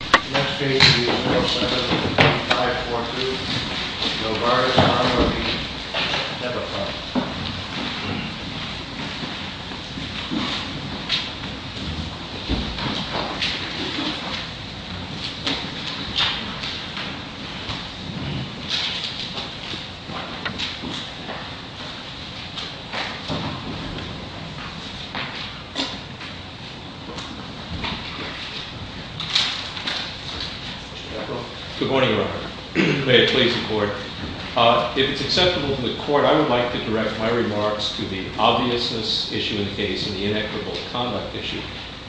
The next case is 07-2542 Novartis Pharma v. Teva Pharma Good morning, Your Honor. May it please the Court. If it's acceptable to the Court, I would like to direct my remarks to the obviousness issue in the case and the inequitable conduct issue.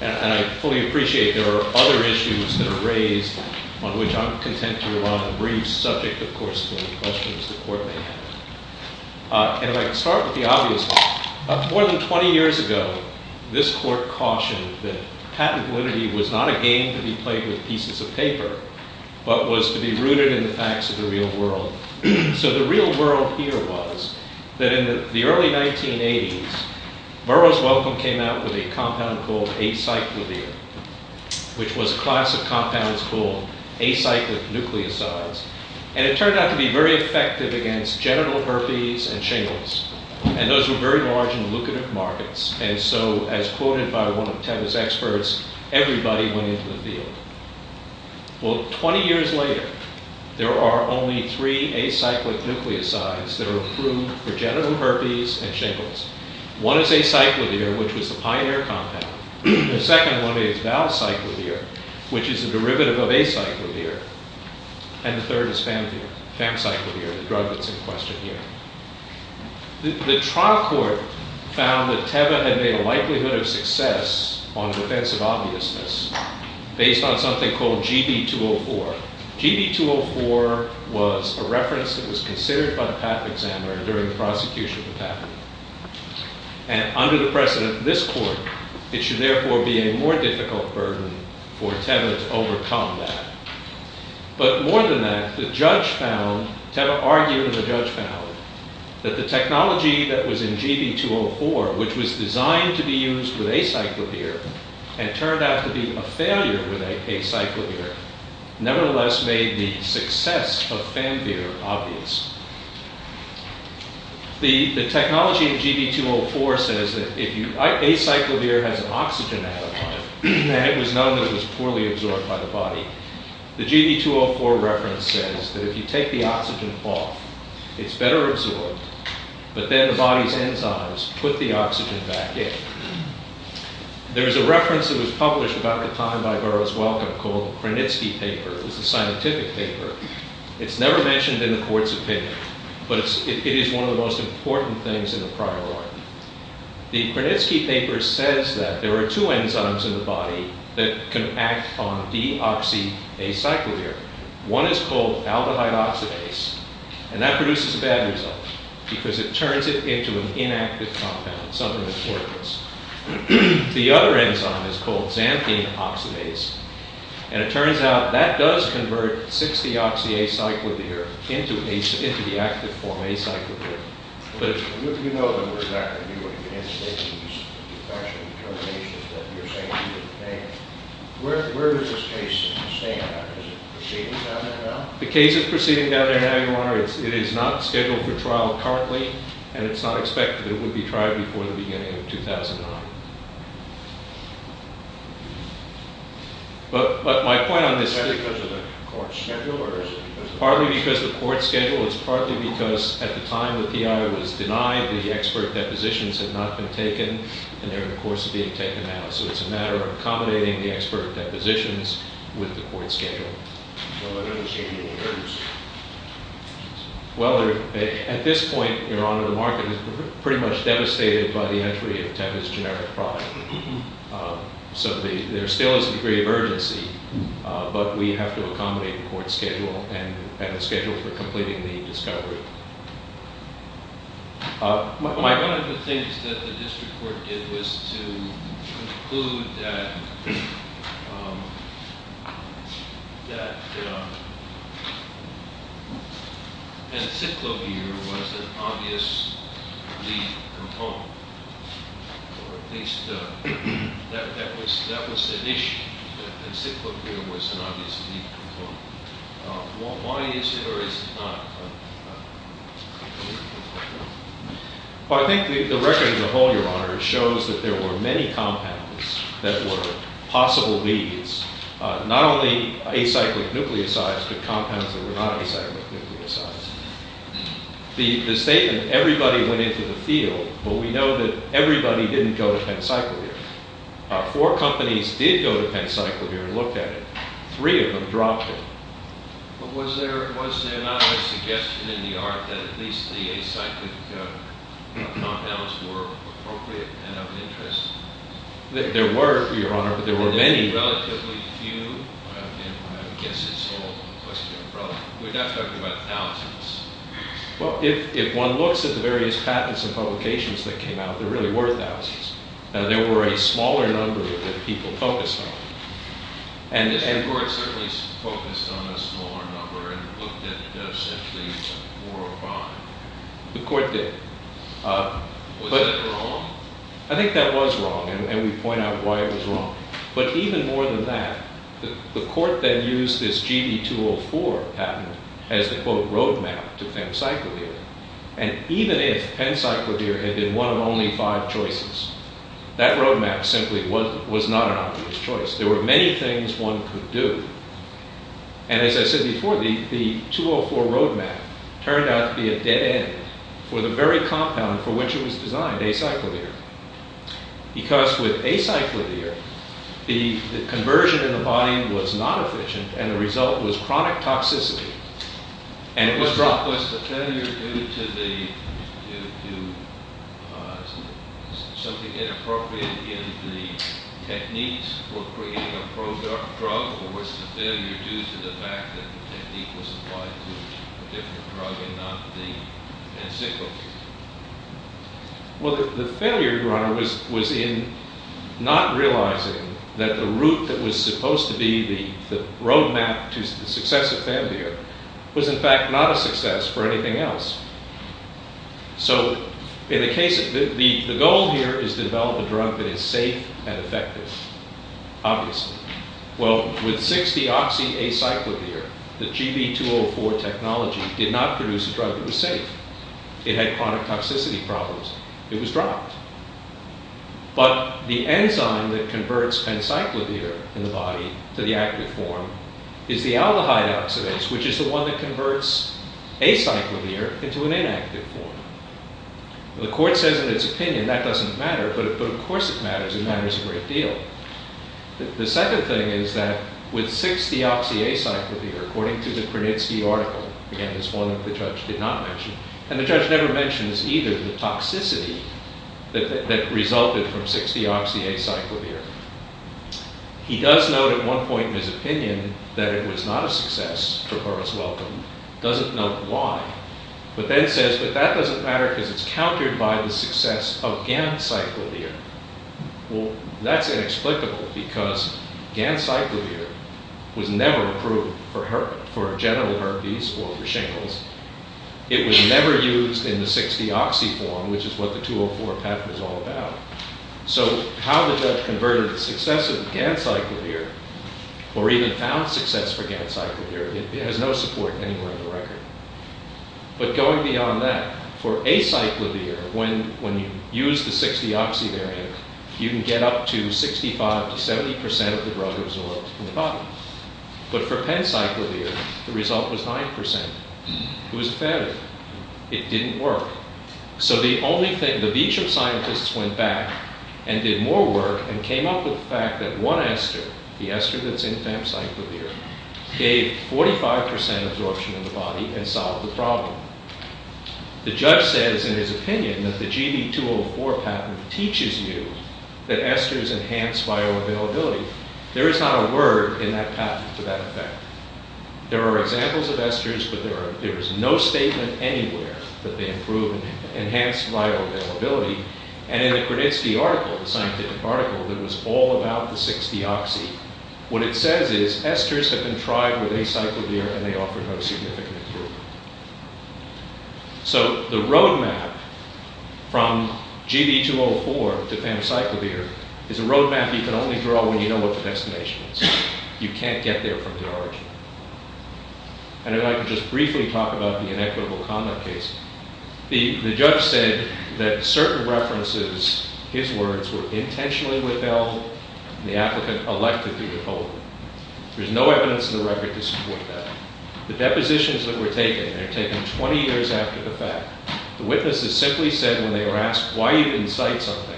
And I fully appreciate there are other issues that are raised on which I'm content to rely on a brief subject, of course, to any questions the Court may have. And if I can start with the obvious, more than 20 years ago, this Court cautioned that patent validity was not a game to be played with pieces of paper, but was to be rooted in the facts of the real world. So the real world here was that in the early 1980s, Burroughs Welcome came out with a compound called acyclovir, which was a class of compounds called acyclic nucleosides. And it turned out to be very effective against genital herpes and shingles. And those were very large in lucrative markets. And so, as quoted by one of Teva's experts, everybody went into the field. Well, 20 years later, there are only three acyclic nucleosides that are approved for genital herpes and shingles. One is acyclovir, which was the pioneer compound. The second one is valcyclovir, which is a derivative of acyclovir. And the third is famvir, famcyclovir, the drug that's in question here. The trial court found that Teva had made a likelihood of success on defense of obviousness based on something called GB204. GB204 was a reference that was considered by the patent examiner during the prosecution of the patent. And under the precedent of this court, it should therefore be a more difficult burden for Teva to overcome that. But more than that, Teva argued and the judge found that the technology that was in GB204, which was designed to be used with acyclovir and turned out to be a failure with acyclovir, nevertheless made the success of famvir obvious. The technology of GB204 says that acyclovir has an oxygen atom on it, and it was known that it was poorly absorbed by the body. The GB204 reference says that if you take the oxygen off, it's better absorbed, but then the body's enzymes put the oxygen back in. There's a reference that was published about the time by Burroughs Welcome called the Krenitsky paper. It was a scientific paper. It's never mentioned in the court's opinion, but it is one of the most important things in the prior law. The Krenitsky paper says that there are two enzymes in the body that can act on deoxyacyclovir. One is called aldehyde oxidase, and that produces a bad result because it turns it into an inactive compound, something that's worthless. The other enzyme is called xanthine oxidase, and it turns out that does convert deoxyacyclovir into the active form acyclovir. The case is proceeding down there now. It is not scheduled for trial currently, and it's not expected. It would be tried before the beginning of 2009. Partly because of the court schedule. It's partly because at the time the PI was denied, the expert depositions had not been taken, and they're, of course, being taken now. So it's a matter of accommodating the expert depositions with the court schedule. Well, at this point, Your Honor, the market is pretty much devastated by the entry of Tevye's generic product. So there still is a degree of urgency, but we have to accommodate the court schedule and the schedule for completing the discovery. One of the things that the district court did was to conclude that acyclovir was an obvious lead component, or at least that was an issue, that acyclovir was an obvious lead component. Why is it or is it not? Well, I think the record as a whole, Your Honor, shows that there were many compounds that were possible leads. Not only acyclic nucleosides, but compounds that were not acyclic nucleosides. The statement, everybody went into the field, but we know that everybody didn't go to pencyclovir. Four companies did go to pencyclovir and looked at it. Three of them dropped it. But was there not a suggestion in the art that at least the acyclic compounds were appropriate and of interest? There were, Your Honor, but there were many. Relatively few? I guess it's all a question of probability. We're not talking about thousands. Well, if one looks at the various patents and publications that came out, there really were thousands. There were a smaller number that people focused on. The court certainly focused on a smaller number and looked at essentially four or five. The court did. Was that wrong? I think that was wrong, and we point out why it was wrong. But even more than that, the court then used this GD204 patent as the, quote, road map to pencyclovir. And even if pencyclovir had been one of only five choices, that road map simply was not an obvious choice. There were many things one could do. And as I said before, the 204 road map turned out to be a dead end for the very compound for which it was designed, acyclovir. Because with acyclovir, the conversion in the body was not efficient, and the result was chronic toxicity, and it was dropped. Was the failure due to something inappropriate in the techniques for creating a pro-drug, or was the failure due to the fact that the technique was applied to a different drug and not the pencyclovir? Well, the failure, Your Honor, was in not realizing that the route that was supposed to be the road map to the success or failure was in fact not a success for anything else. So, in the case of, the goal here is to develop a drug that is safe and effective, obviously. Well, with 6-deoxyacyclovir, the GD204 technology did not produce a drug that was safe. It had chronic toxicity problems. It was dropped. But the enzyme that converts pencyclovir in the body to the active form is the aldehyde oxidase, which is the one that converts acyclovir into an inactive form. The court says in its opinion that doesn't matter, but of course it matters, it matters a great deal. The second thing is that with 6-deoxyacyclovir, according to the Krenitsky article, again, it's one that the judge did not mention, and the judge never mentions either the toxicity that resulted from 6-deoxyacyclovir. He does note at one point in his opinion that it was not a success for Horace Wellcome, doesn't note why, but then says that that doesn't matter because it's countered by the success of gancyclovir. Well, that's inexplicable because gancyclovir was never approved for general herpes or for shingles. It was never used in the 6-deoxy form, which is what the 204 patent is all about. So how did that convert the success of gancyclovir, or even found success for gancyclovir? It has no support anywhere in the record. But going beyond that, for acyclovir, when you use the 6-deoxy variant, you can get up to 65 to 70% of the drug absorbed in the body. But for pencyclovir, the result was 9%. It was a failure. It didn't work. So the only thing, the beach of scientists went back and did more work and came up with the fact that one ester, the ester that's in pencyclovir, gave 45% absorption in the body and solved the problem. The judge says in his opinion that the GB204 patent teaches you that esters enhance bioavailability. There is not a word in that patent to that effect. There are examples of esters, but there is no statement anywhere that they improve and enhance bioavailability. And in the Kreditsky article, the scientific article, that was all about the 6-deoxy, what it says is esters have been tried with acyclovir and they offer no significant improvement. So the road map from GB204 to pencyclovir is a road map you can only draw when you know what the destination is. You can't get there from the origin. And I'd like to just briefly talk about the inequitable conduct case. The judge said that certain references, his words, were intentionally withheld and the applicant elected to withhold them. There's no evidence in the record to support that. The depositions that were taken, they were taken 20 years after the fact, the witnesses simply said when they were asked why you didn't cite something,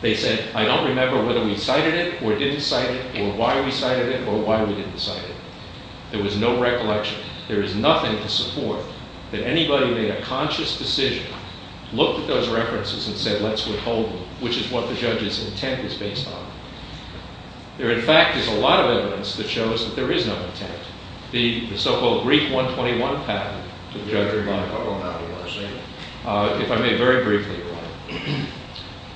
they said, I don't remember whether we cited it or didn't cite it or why we cited it or why we didn't cite it. There was no recollection. There is nothing to support that anybody made a conscious decision, looked at those references and said let's withhold them, which is what the judge's intent is based on. There in fact is a lot of evidence that shows that there is no intent. The so-called Greek 121 patent, if I may very briefly.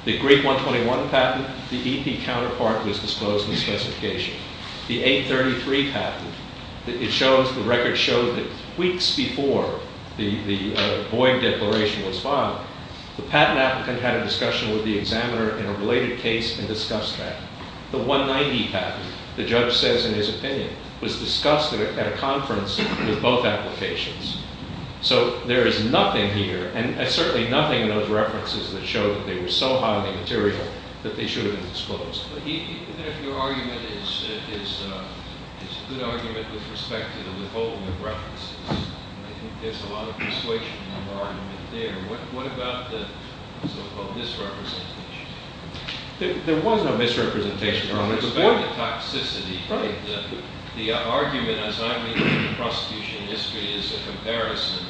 The Greek 121 patent, the EP counterpart was disclosed in the specification. The 833 patent, it shows, the record shows that weeks before the Boyd Declaration was filed, the patent applicant had a discussion with the examiner in a related case and discussed that. The 190 patent, the judge says in his opinion, was discussed at a conference with both applications. So there is nothing here and certainly nothing in those references that showed that they were so highly material that they should have been disclosed. Your argument is a good argument with respect to the withholding of references. I think there's a lot of persuasion in the argument there. What about the so-called misrepresentation? There was no misrepresentation. It was about the toxicity. The argument, as I read it in the prosecution history, is a comparison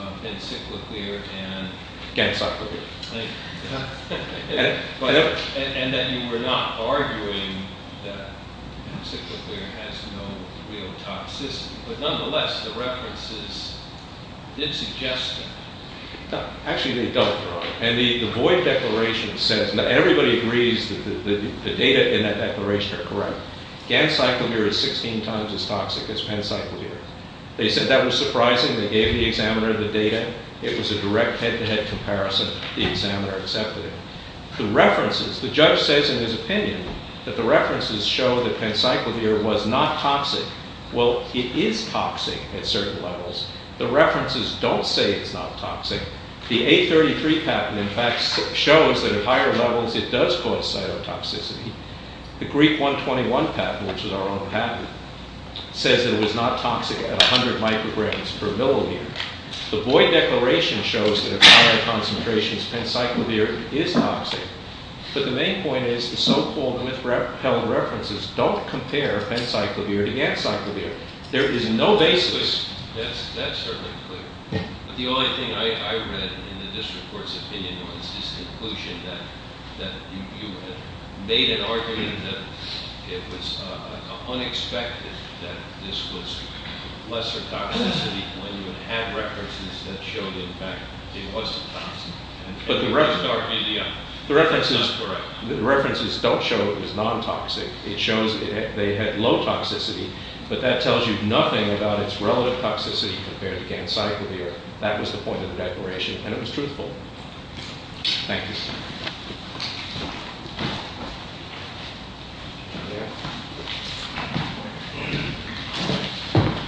of encyclopedia and… Gensokyo. And that you were not arguing that encyclopedia has no real toxicity. But nonetheless, the references did suggest that. Actually, they don't. And the Boyd Declaration says that everybody agrees that the data in that declaration are correct. Gensokyo is 16 times as toxic as encyclopedia. They said that was surprising. They gave the examiner the data. It was a direct head-to-head comparison. The examiner accepted it. The references, the judge says in his opinion, that the references show that encyclopedia was not toxic. Well, it is toxic at certain levels. The references don't say it's not toxic. The A33 patent, in fact, shows that at higher levels it does cause cytotoxicity. The Greek 121 patent, which is our own patent, says it was not toxic at 100 micrograms per millimeter. The Boyd Declaration shows that at higher concentrations, encyclopedia is toxic. But the main point is the so-called misrepelled references don't compare encyclopedia to encyclopedia. There is no basis. That's certainly clear. But the only thing I read in the district court's opinion was this conclusion that you had made an argument that it was unexpected that this was lesser toxicity when you had references that showed, in fact, it wasn't toxic. But the references don't show it was non-toxic. It shows they had low toxicity. But that tells you nothing about its relative toxicity compared against encyclopedia. That was the point of the declaration, and it was truthful. Thank you.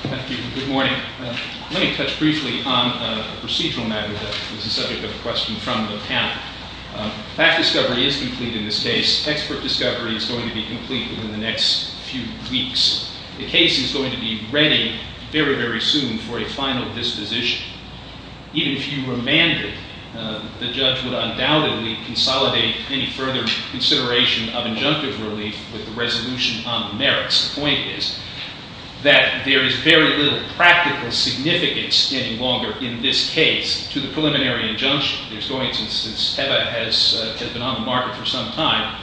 Thank you. Good morning. Let me touch briefly on a procedural matter that is the subject of the question from the panel. Fact discovery is complete in this case. Expert discovery is going to be complete within the next few weeks. The case is going to be ready very, very soon for a final disposition. Even if you remanded, the judge would undoubtedly consolidate any further consideration of injunctive relief with the resolution on the merits. The point is that there is very little practical significance any longer in this case to the preliminary injunction. Since TEVA has been on the market for some time,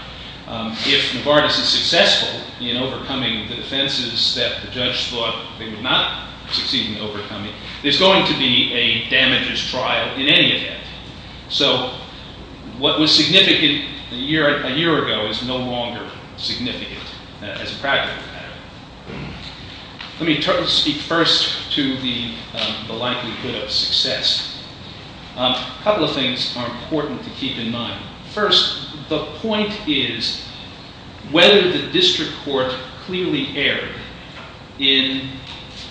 if Novartis is successful in overcoming the offenses that the judge thought they would not succeed in overcoming, there's going to be a damages trial in any event. So what was significant a year ago is no longer significant as a practical matter. Let me speak first to the likelihood of success. A couple of things are important to keep in mind. First, the point is whether the district court clearly erred in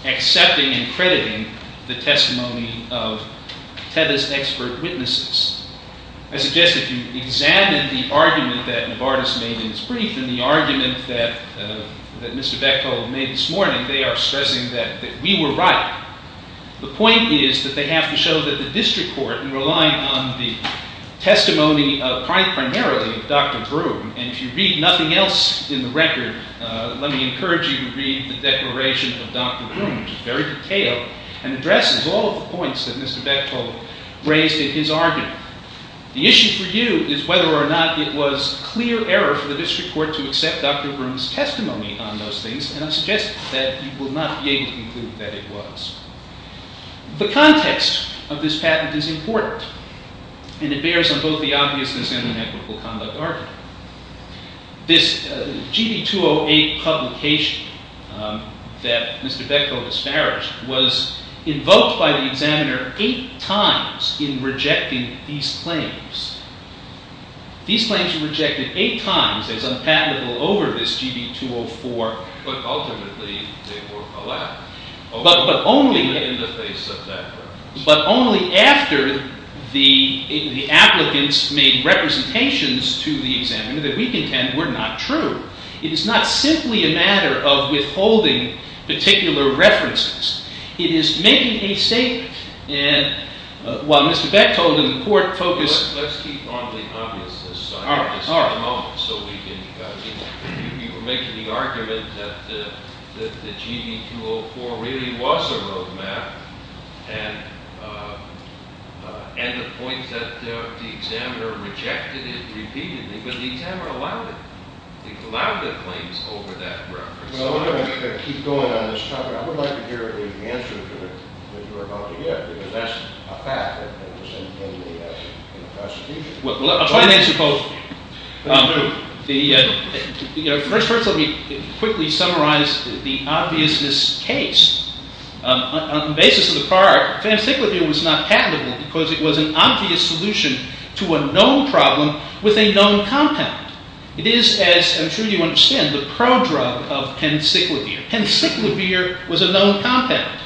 accepting and crediting the testimony of TEVA's expert witnesses. I suggest if you examine the argument that Novartis made in his brief and the argument that Mr. Bechtol made this morning, they are stressing that we were right. The point is that they have to show that the district court, in relying on the testimony primarily of Dr. Broome, and if you read nothing else in the record, let me encourage you to read the declaration of Dr. Broome, which is very detailed and addresses all of the points that Mr. Bechtol raised in his argument. The issue for you is whether or not it was clear error for the district court to accept Dr. Broome's testimony on those things, and I suggest that you will not be able to conclude that it was. The context of this patent is important, and it bears on both the obviousness and an equitable conduct argument. This GB208 publication that Mr. Bechtol disparaged was invoked by the examiner eight times in rejecting these claims. These claims were rejected eight times as unpatentable over this GB204. But ultimately they were allowed. But only after the applicants made representations to the examiner that we contend were not true. It is not simply a matter of withholding particular references. It is making a statement, and while Mr. Bechtol to the court focused... Let's keep on the obviousness. All right. You were making the argument that the GB204 really was a road map, and the point that the examiner rejected it repeatedly, but the examiner allowed it. He allowed the claims over that reference. Well, I'm going to keep going on this topic. I would like to hear the answer that you are about to give, because that's a fact that was in the Constitution. Well, I'll try and answer both. First, let me quickly summarize the obviousness case. On the basis of the prior, fantacyclopine was not patentable because it was an obvious solution to a known problem with a known compound. It is, as I'm sure you understand, the prodrug of pancyclovir. Pancyclovir was a known compound,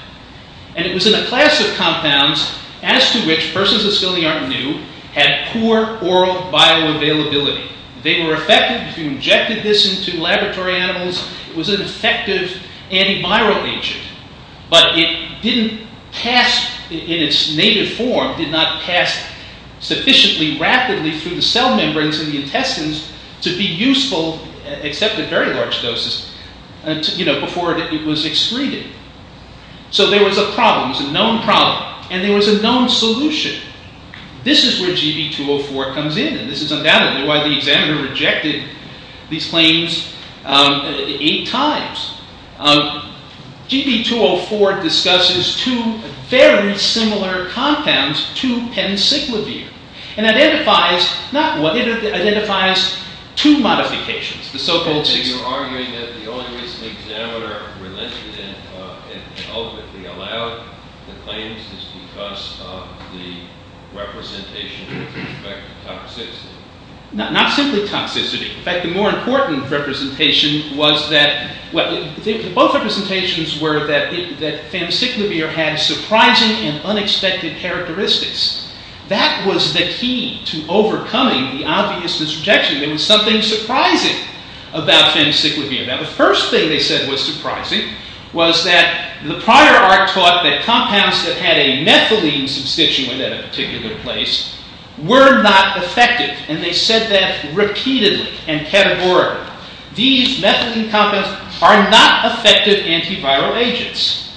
and it was in a class of compounds as to which persons of skill in the art knew had poor oral bioavailability. They were effective. If you injected this into laboratory animals, it was an effective antiviral agent, but it didn't pass in its native form, did not pass sufficiently rapidly through the cell membranes in the intestines to be useful, except at very large doses, before it was excreted. So there was a problem. It was a known problem, and there was a known solution. This is where GB204 comes in, and this is undoubtedly why the examiner rejected these claims eight times. GB204 discusses two very similar compounds to pancyclovir, and identifies two modifications. The so-called... And you're arguing that the only reason the examiner relented and ultimately allowed the claims is because of the representation with respect to toxicity. Not simply toxicity. In fact, the more important representation was that... Well, both representations were that pancyclovir had surprising and unexpected characteristics. That was the key to overcoming the obvious disrejection. There was something surprising about pancyclovir. Now, the first thing they said was surprising was that the prior art taught that compounds that had a methylene substituent at a particular place were not effective, and they said that repeatedly and categorically. These methylene compounds are not effective antiviral agents.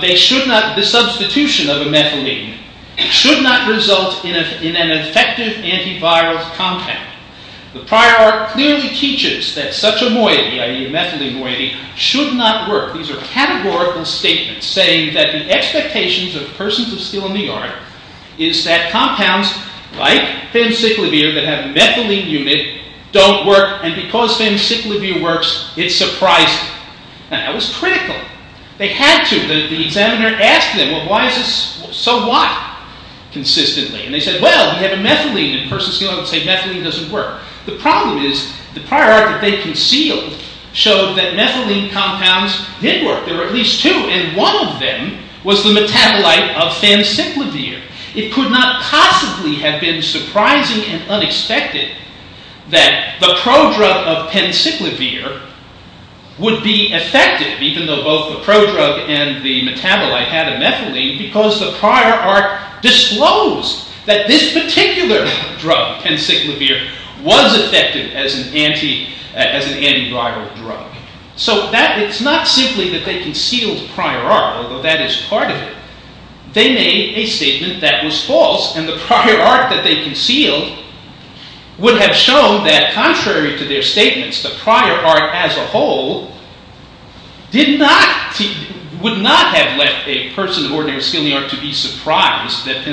They should not... The substitution of a methylene should not result in an effective antiviral compound. The prior art clearly teaches that such a moiety, i.e. a methylene moiety, should not work. These are categorical statements saying that the expectations of persons of skill in the art is that compounds like pancyclovir that have a methylene unit don't work, and because pancyclovir works, it's surprising. Now, that was critical. They had to. The examiner asked them, well, why is this... So why? Consistently. And they said, well, we have a methylene in persons of skill. I would say methylene doesn't work. The problem is the prior art that they concealed showed that methylene compounds did work. There were at least two, and one of them was the metabolite of pancyclovir. It could not possibly have been surprising and unexpected that the prodrug of pancyclovir would be effective, even though both the prodrug and the metabolite had a methylene, because the prior art disclosed that this particular drug, pancyclovir, was effective as an antiviral drug. So it's not simply that they concealed prior art, although that is part of it. They made a statement that was false, and the prior art that they concealed would have shown that contrary to their statements, the prior art as a whole would not have left a person of ordinary skill to be surprised that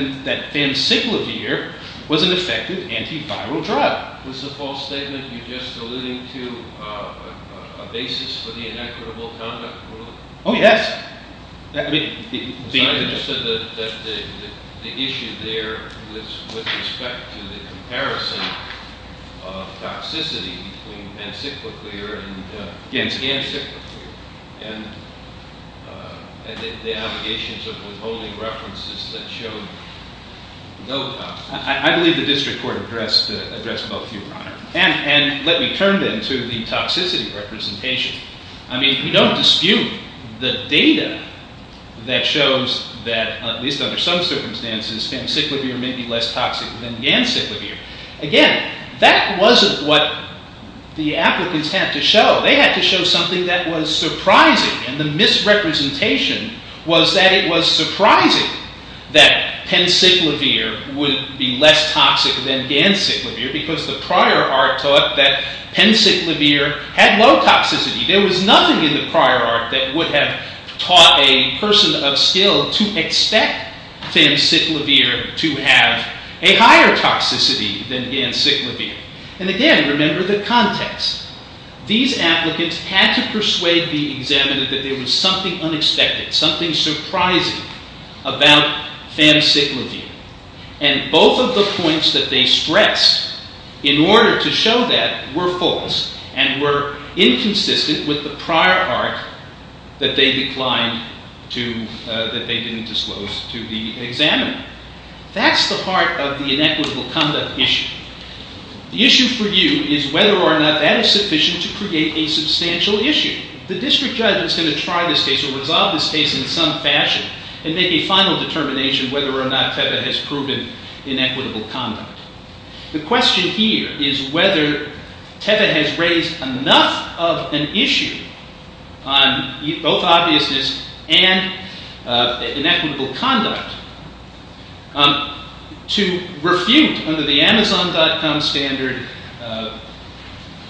pancyclovir was an effective antiviral drug. Was the false statement you just alluded to a basis for the inequitable conduct rule? Oh, yes. The issue there was with respect to the comparison of toxicity between pancyclovir and ganciclovir, and the allegations of withholding references that showed no toxicity. I believe the district court addressed both of you, Your Honor. And let me turn then to the toxicity representation. I mean, we don't dispute the data that shows that, at least under some circumstances, pancyclovir may be less toxic than ganciclovir. Again, that wasn't what the applicants had to show. They had to show something that was surprising, and the misrepresentation was that it was surprising that pancyclovir would be less toxic than ganciclovir, because the prior art taught that pancyclovir had low toxicity. There was nothing in the prior art that would have taught a person of skill to expect pancyclovir to have a higher toxicity than ganciclovir. And again, remember the context. These applicants had to persuade the examiner that there was something unexpected, something surprising about pancyclovir. And both of the points that they stressed in order to show that were false and were inconsistent with the prior art that they didn't disclose to the examiner. That's the heart of the inequitable conduct issue. The issue for you is whether or not that is sufficient to create a substantial issue. The district judge is going to try this case or resolve this case in some fashion and make a final determination whether or not Teva has proven inequitable conduct. The question here is whether Teva has raised enough of an issue on both obviousness and inequitable conduct to refute, under the Amazon.com standard,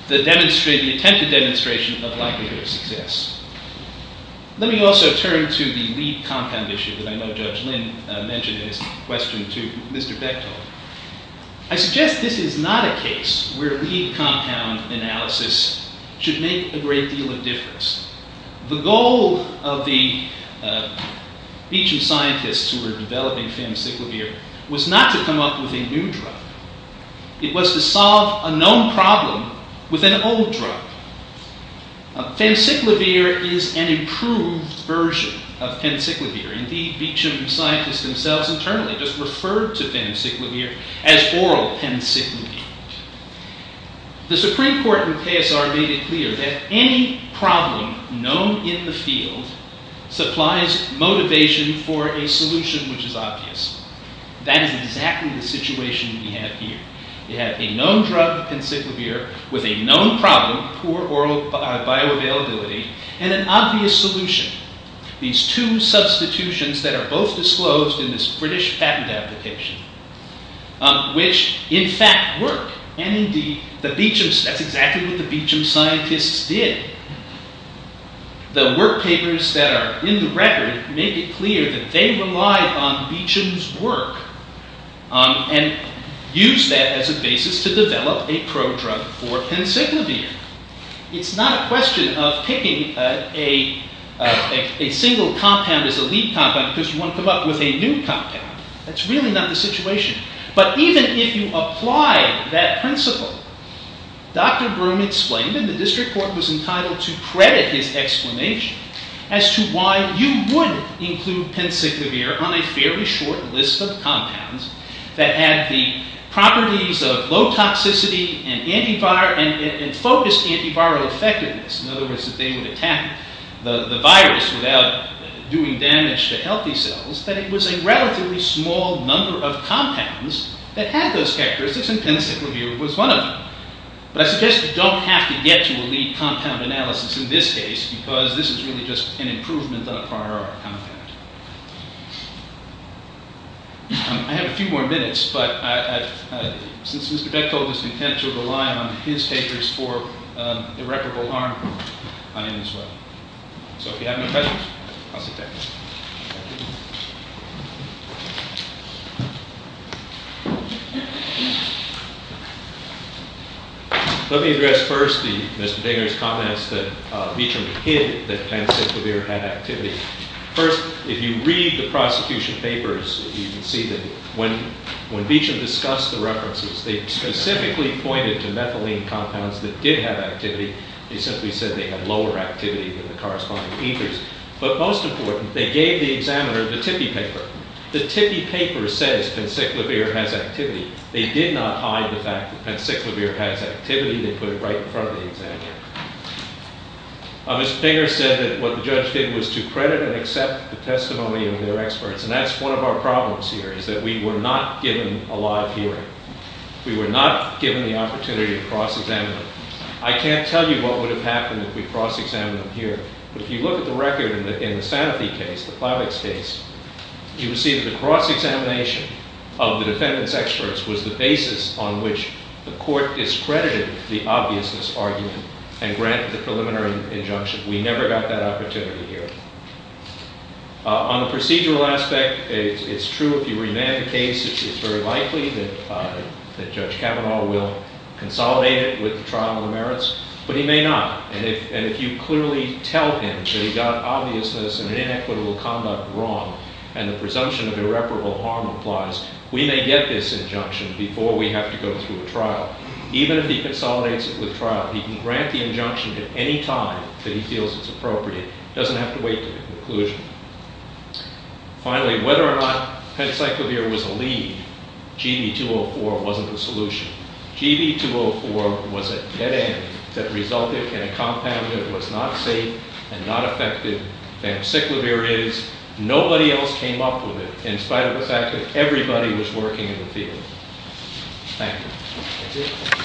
the attempted demonstration of likelihood of success. Let me also turn to the lead compound issue that I know Judge Lin mentioned in his question to Mr. Bechtold. I suggest this is not a case where lead compound analysis should make a great deal of difference. The goal of the Beecham scientists who were developing pancyclovir was not to come up with a new drug. It was to solve a known problem with an old drug. Pancyclovir is an improved version of pancyclovir. Indeed, Beecham scientists themselves internally just referred to pancyclovir as oral pancyclovir. The Supreme Court in PSR made it clear that any problem known in the field supplies motivation for a solution which is obvious. That is exactly the situation we have here. You have a known drug, pancyclovir, with a known problem, poor oral bioavailability, and an obvious solution. These two substitutions that are both disclosed in this British patent application, which in fact work. And indeed, that's exactly what the Beecham scientists did. The work papers that are in the record make it clear that they relied on Beecham's work and used that as a basis to develop a pro-drug for pancyclovir. It's not a question of picking a single compound as a lead compound because you want to come up with a new compound. That's really not the situation. But even if you apply that principle, Dr. Broom explained, and the district court was entitled to credit his explanation, as to why you would include pancyclovir on a fairly short list of compounds that had the properties of low toxicity and focused antiviral effectiveness. In other words, if they would attack the virus without doing damage to healthy cells, then it was a relatively small number of compounds that had those characteristics, and pancyclovir was one of them. But I suggest you don't have to get to a lead compound analysis in this case, because this is really just an improvement on a prior compound. I have a few more minutes, but since Mr. Beck told us intentionally to rely on his papers for irreparable harm, I'll end this way. So if you have no questions, I'll sit down. Let me address first Mr. Degner's comments that Veacham hid that pancyclovir had activity. First, if you read the prosecution papers, you can see that when Veacham discussed the references, they specifically pointed to methylene compounds that did have activity. They simply said they had lower activity than the corresponding ethers. But most important, they gave the examiner the tippy paper. The tippy paper says pancyclovir has activity. They did not hide the fact that pancyclovir has activity. They put it right in front of the examiner. Mr. Degner said that what the judge did was to credit and accept the testimony of their experts, and that's one of our problems here, is that we were not given a live hearing. We were not given the opportunity to cross-examine them. I can't tell you what would have happened if we'd cross-examined them here, but if you look at the record in the Sanofi case, the Clavix case, you would see that the cross-examination of the defendant's experts was the basis on which the court discredited the obviousness argument and granted the preliminary injunction. We never got that opportunity here. On the procedural aspect, it's true. If you remand the case, it's very likely that Judge Kavanaugh will consolidate it with the trial on the merits, but he may not. And if you clearly tell him that he got obviousness and an inequitable conduct wrong and the presumption of irreparable harm applies, we may get this injunction before we have to go through a trial. Even if he consolidates it with trial, he can grant the injunction at any time that he feels it's appropriate. He doesn't have to wait to the conclusion. Finally, whether or not peniciclovir was a lead, GB204 wasn't the solution. GB204 was a dead end that resulted in a compound that was not safe and not effective. Peniciclovir is. Nobody else came up with it, in spite of the fact that everybody was working in the field. Thank you.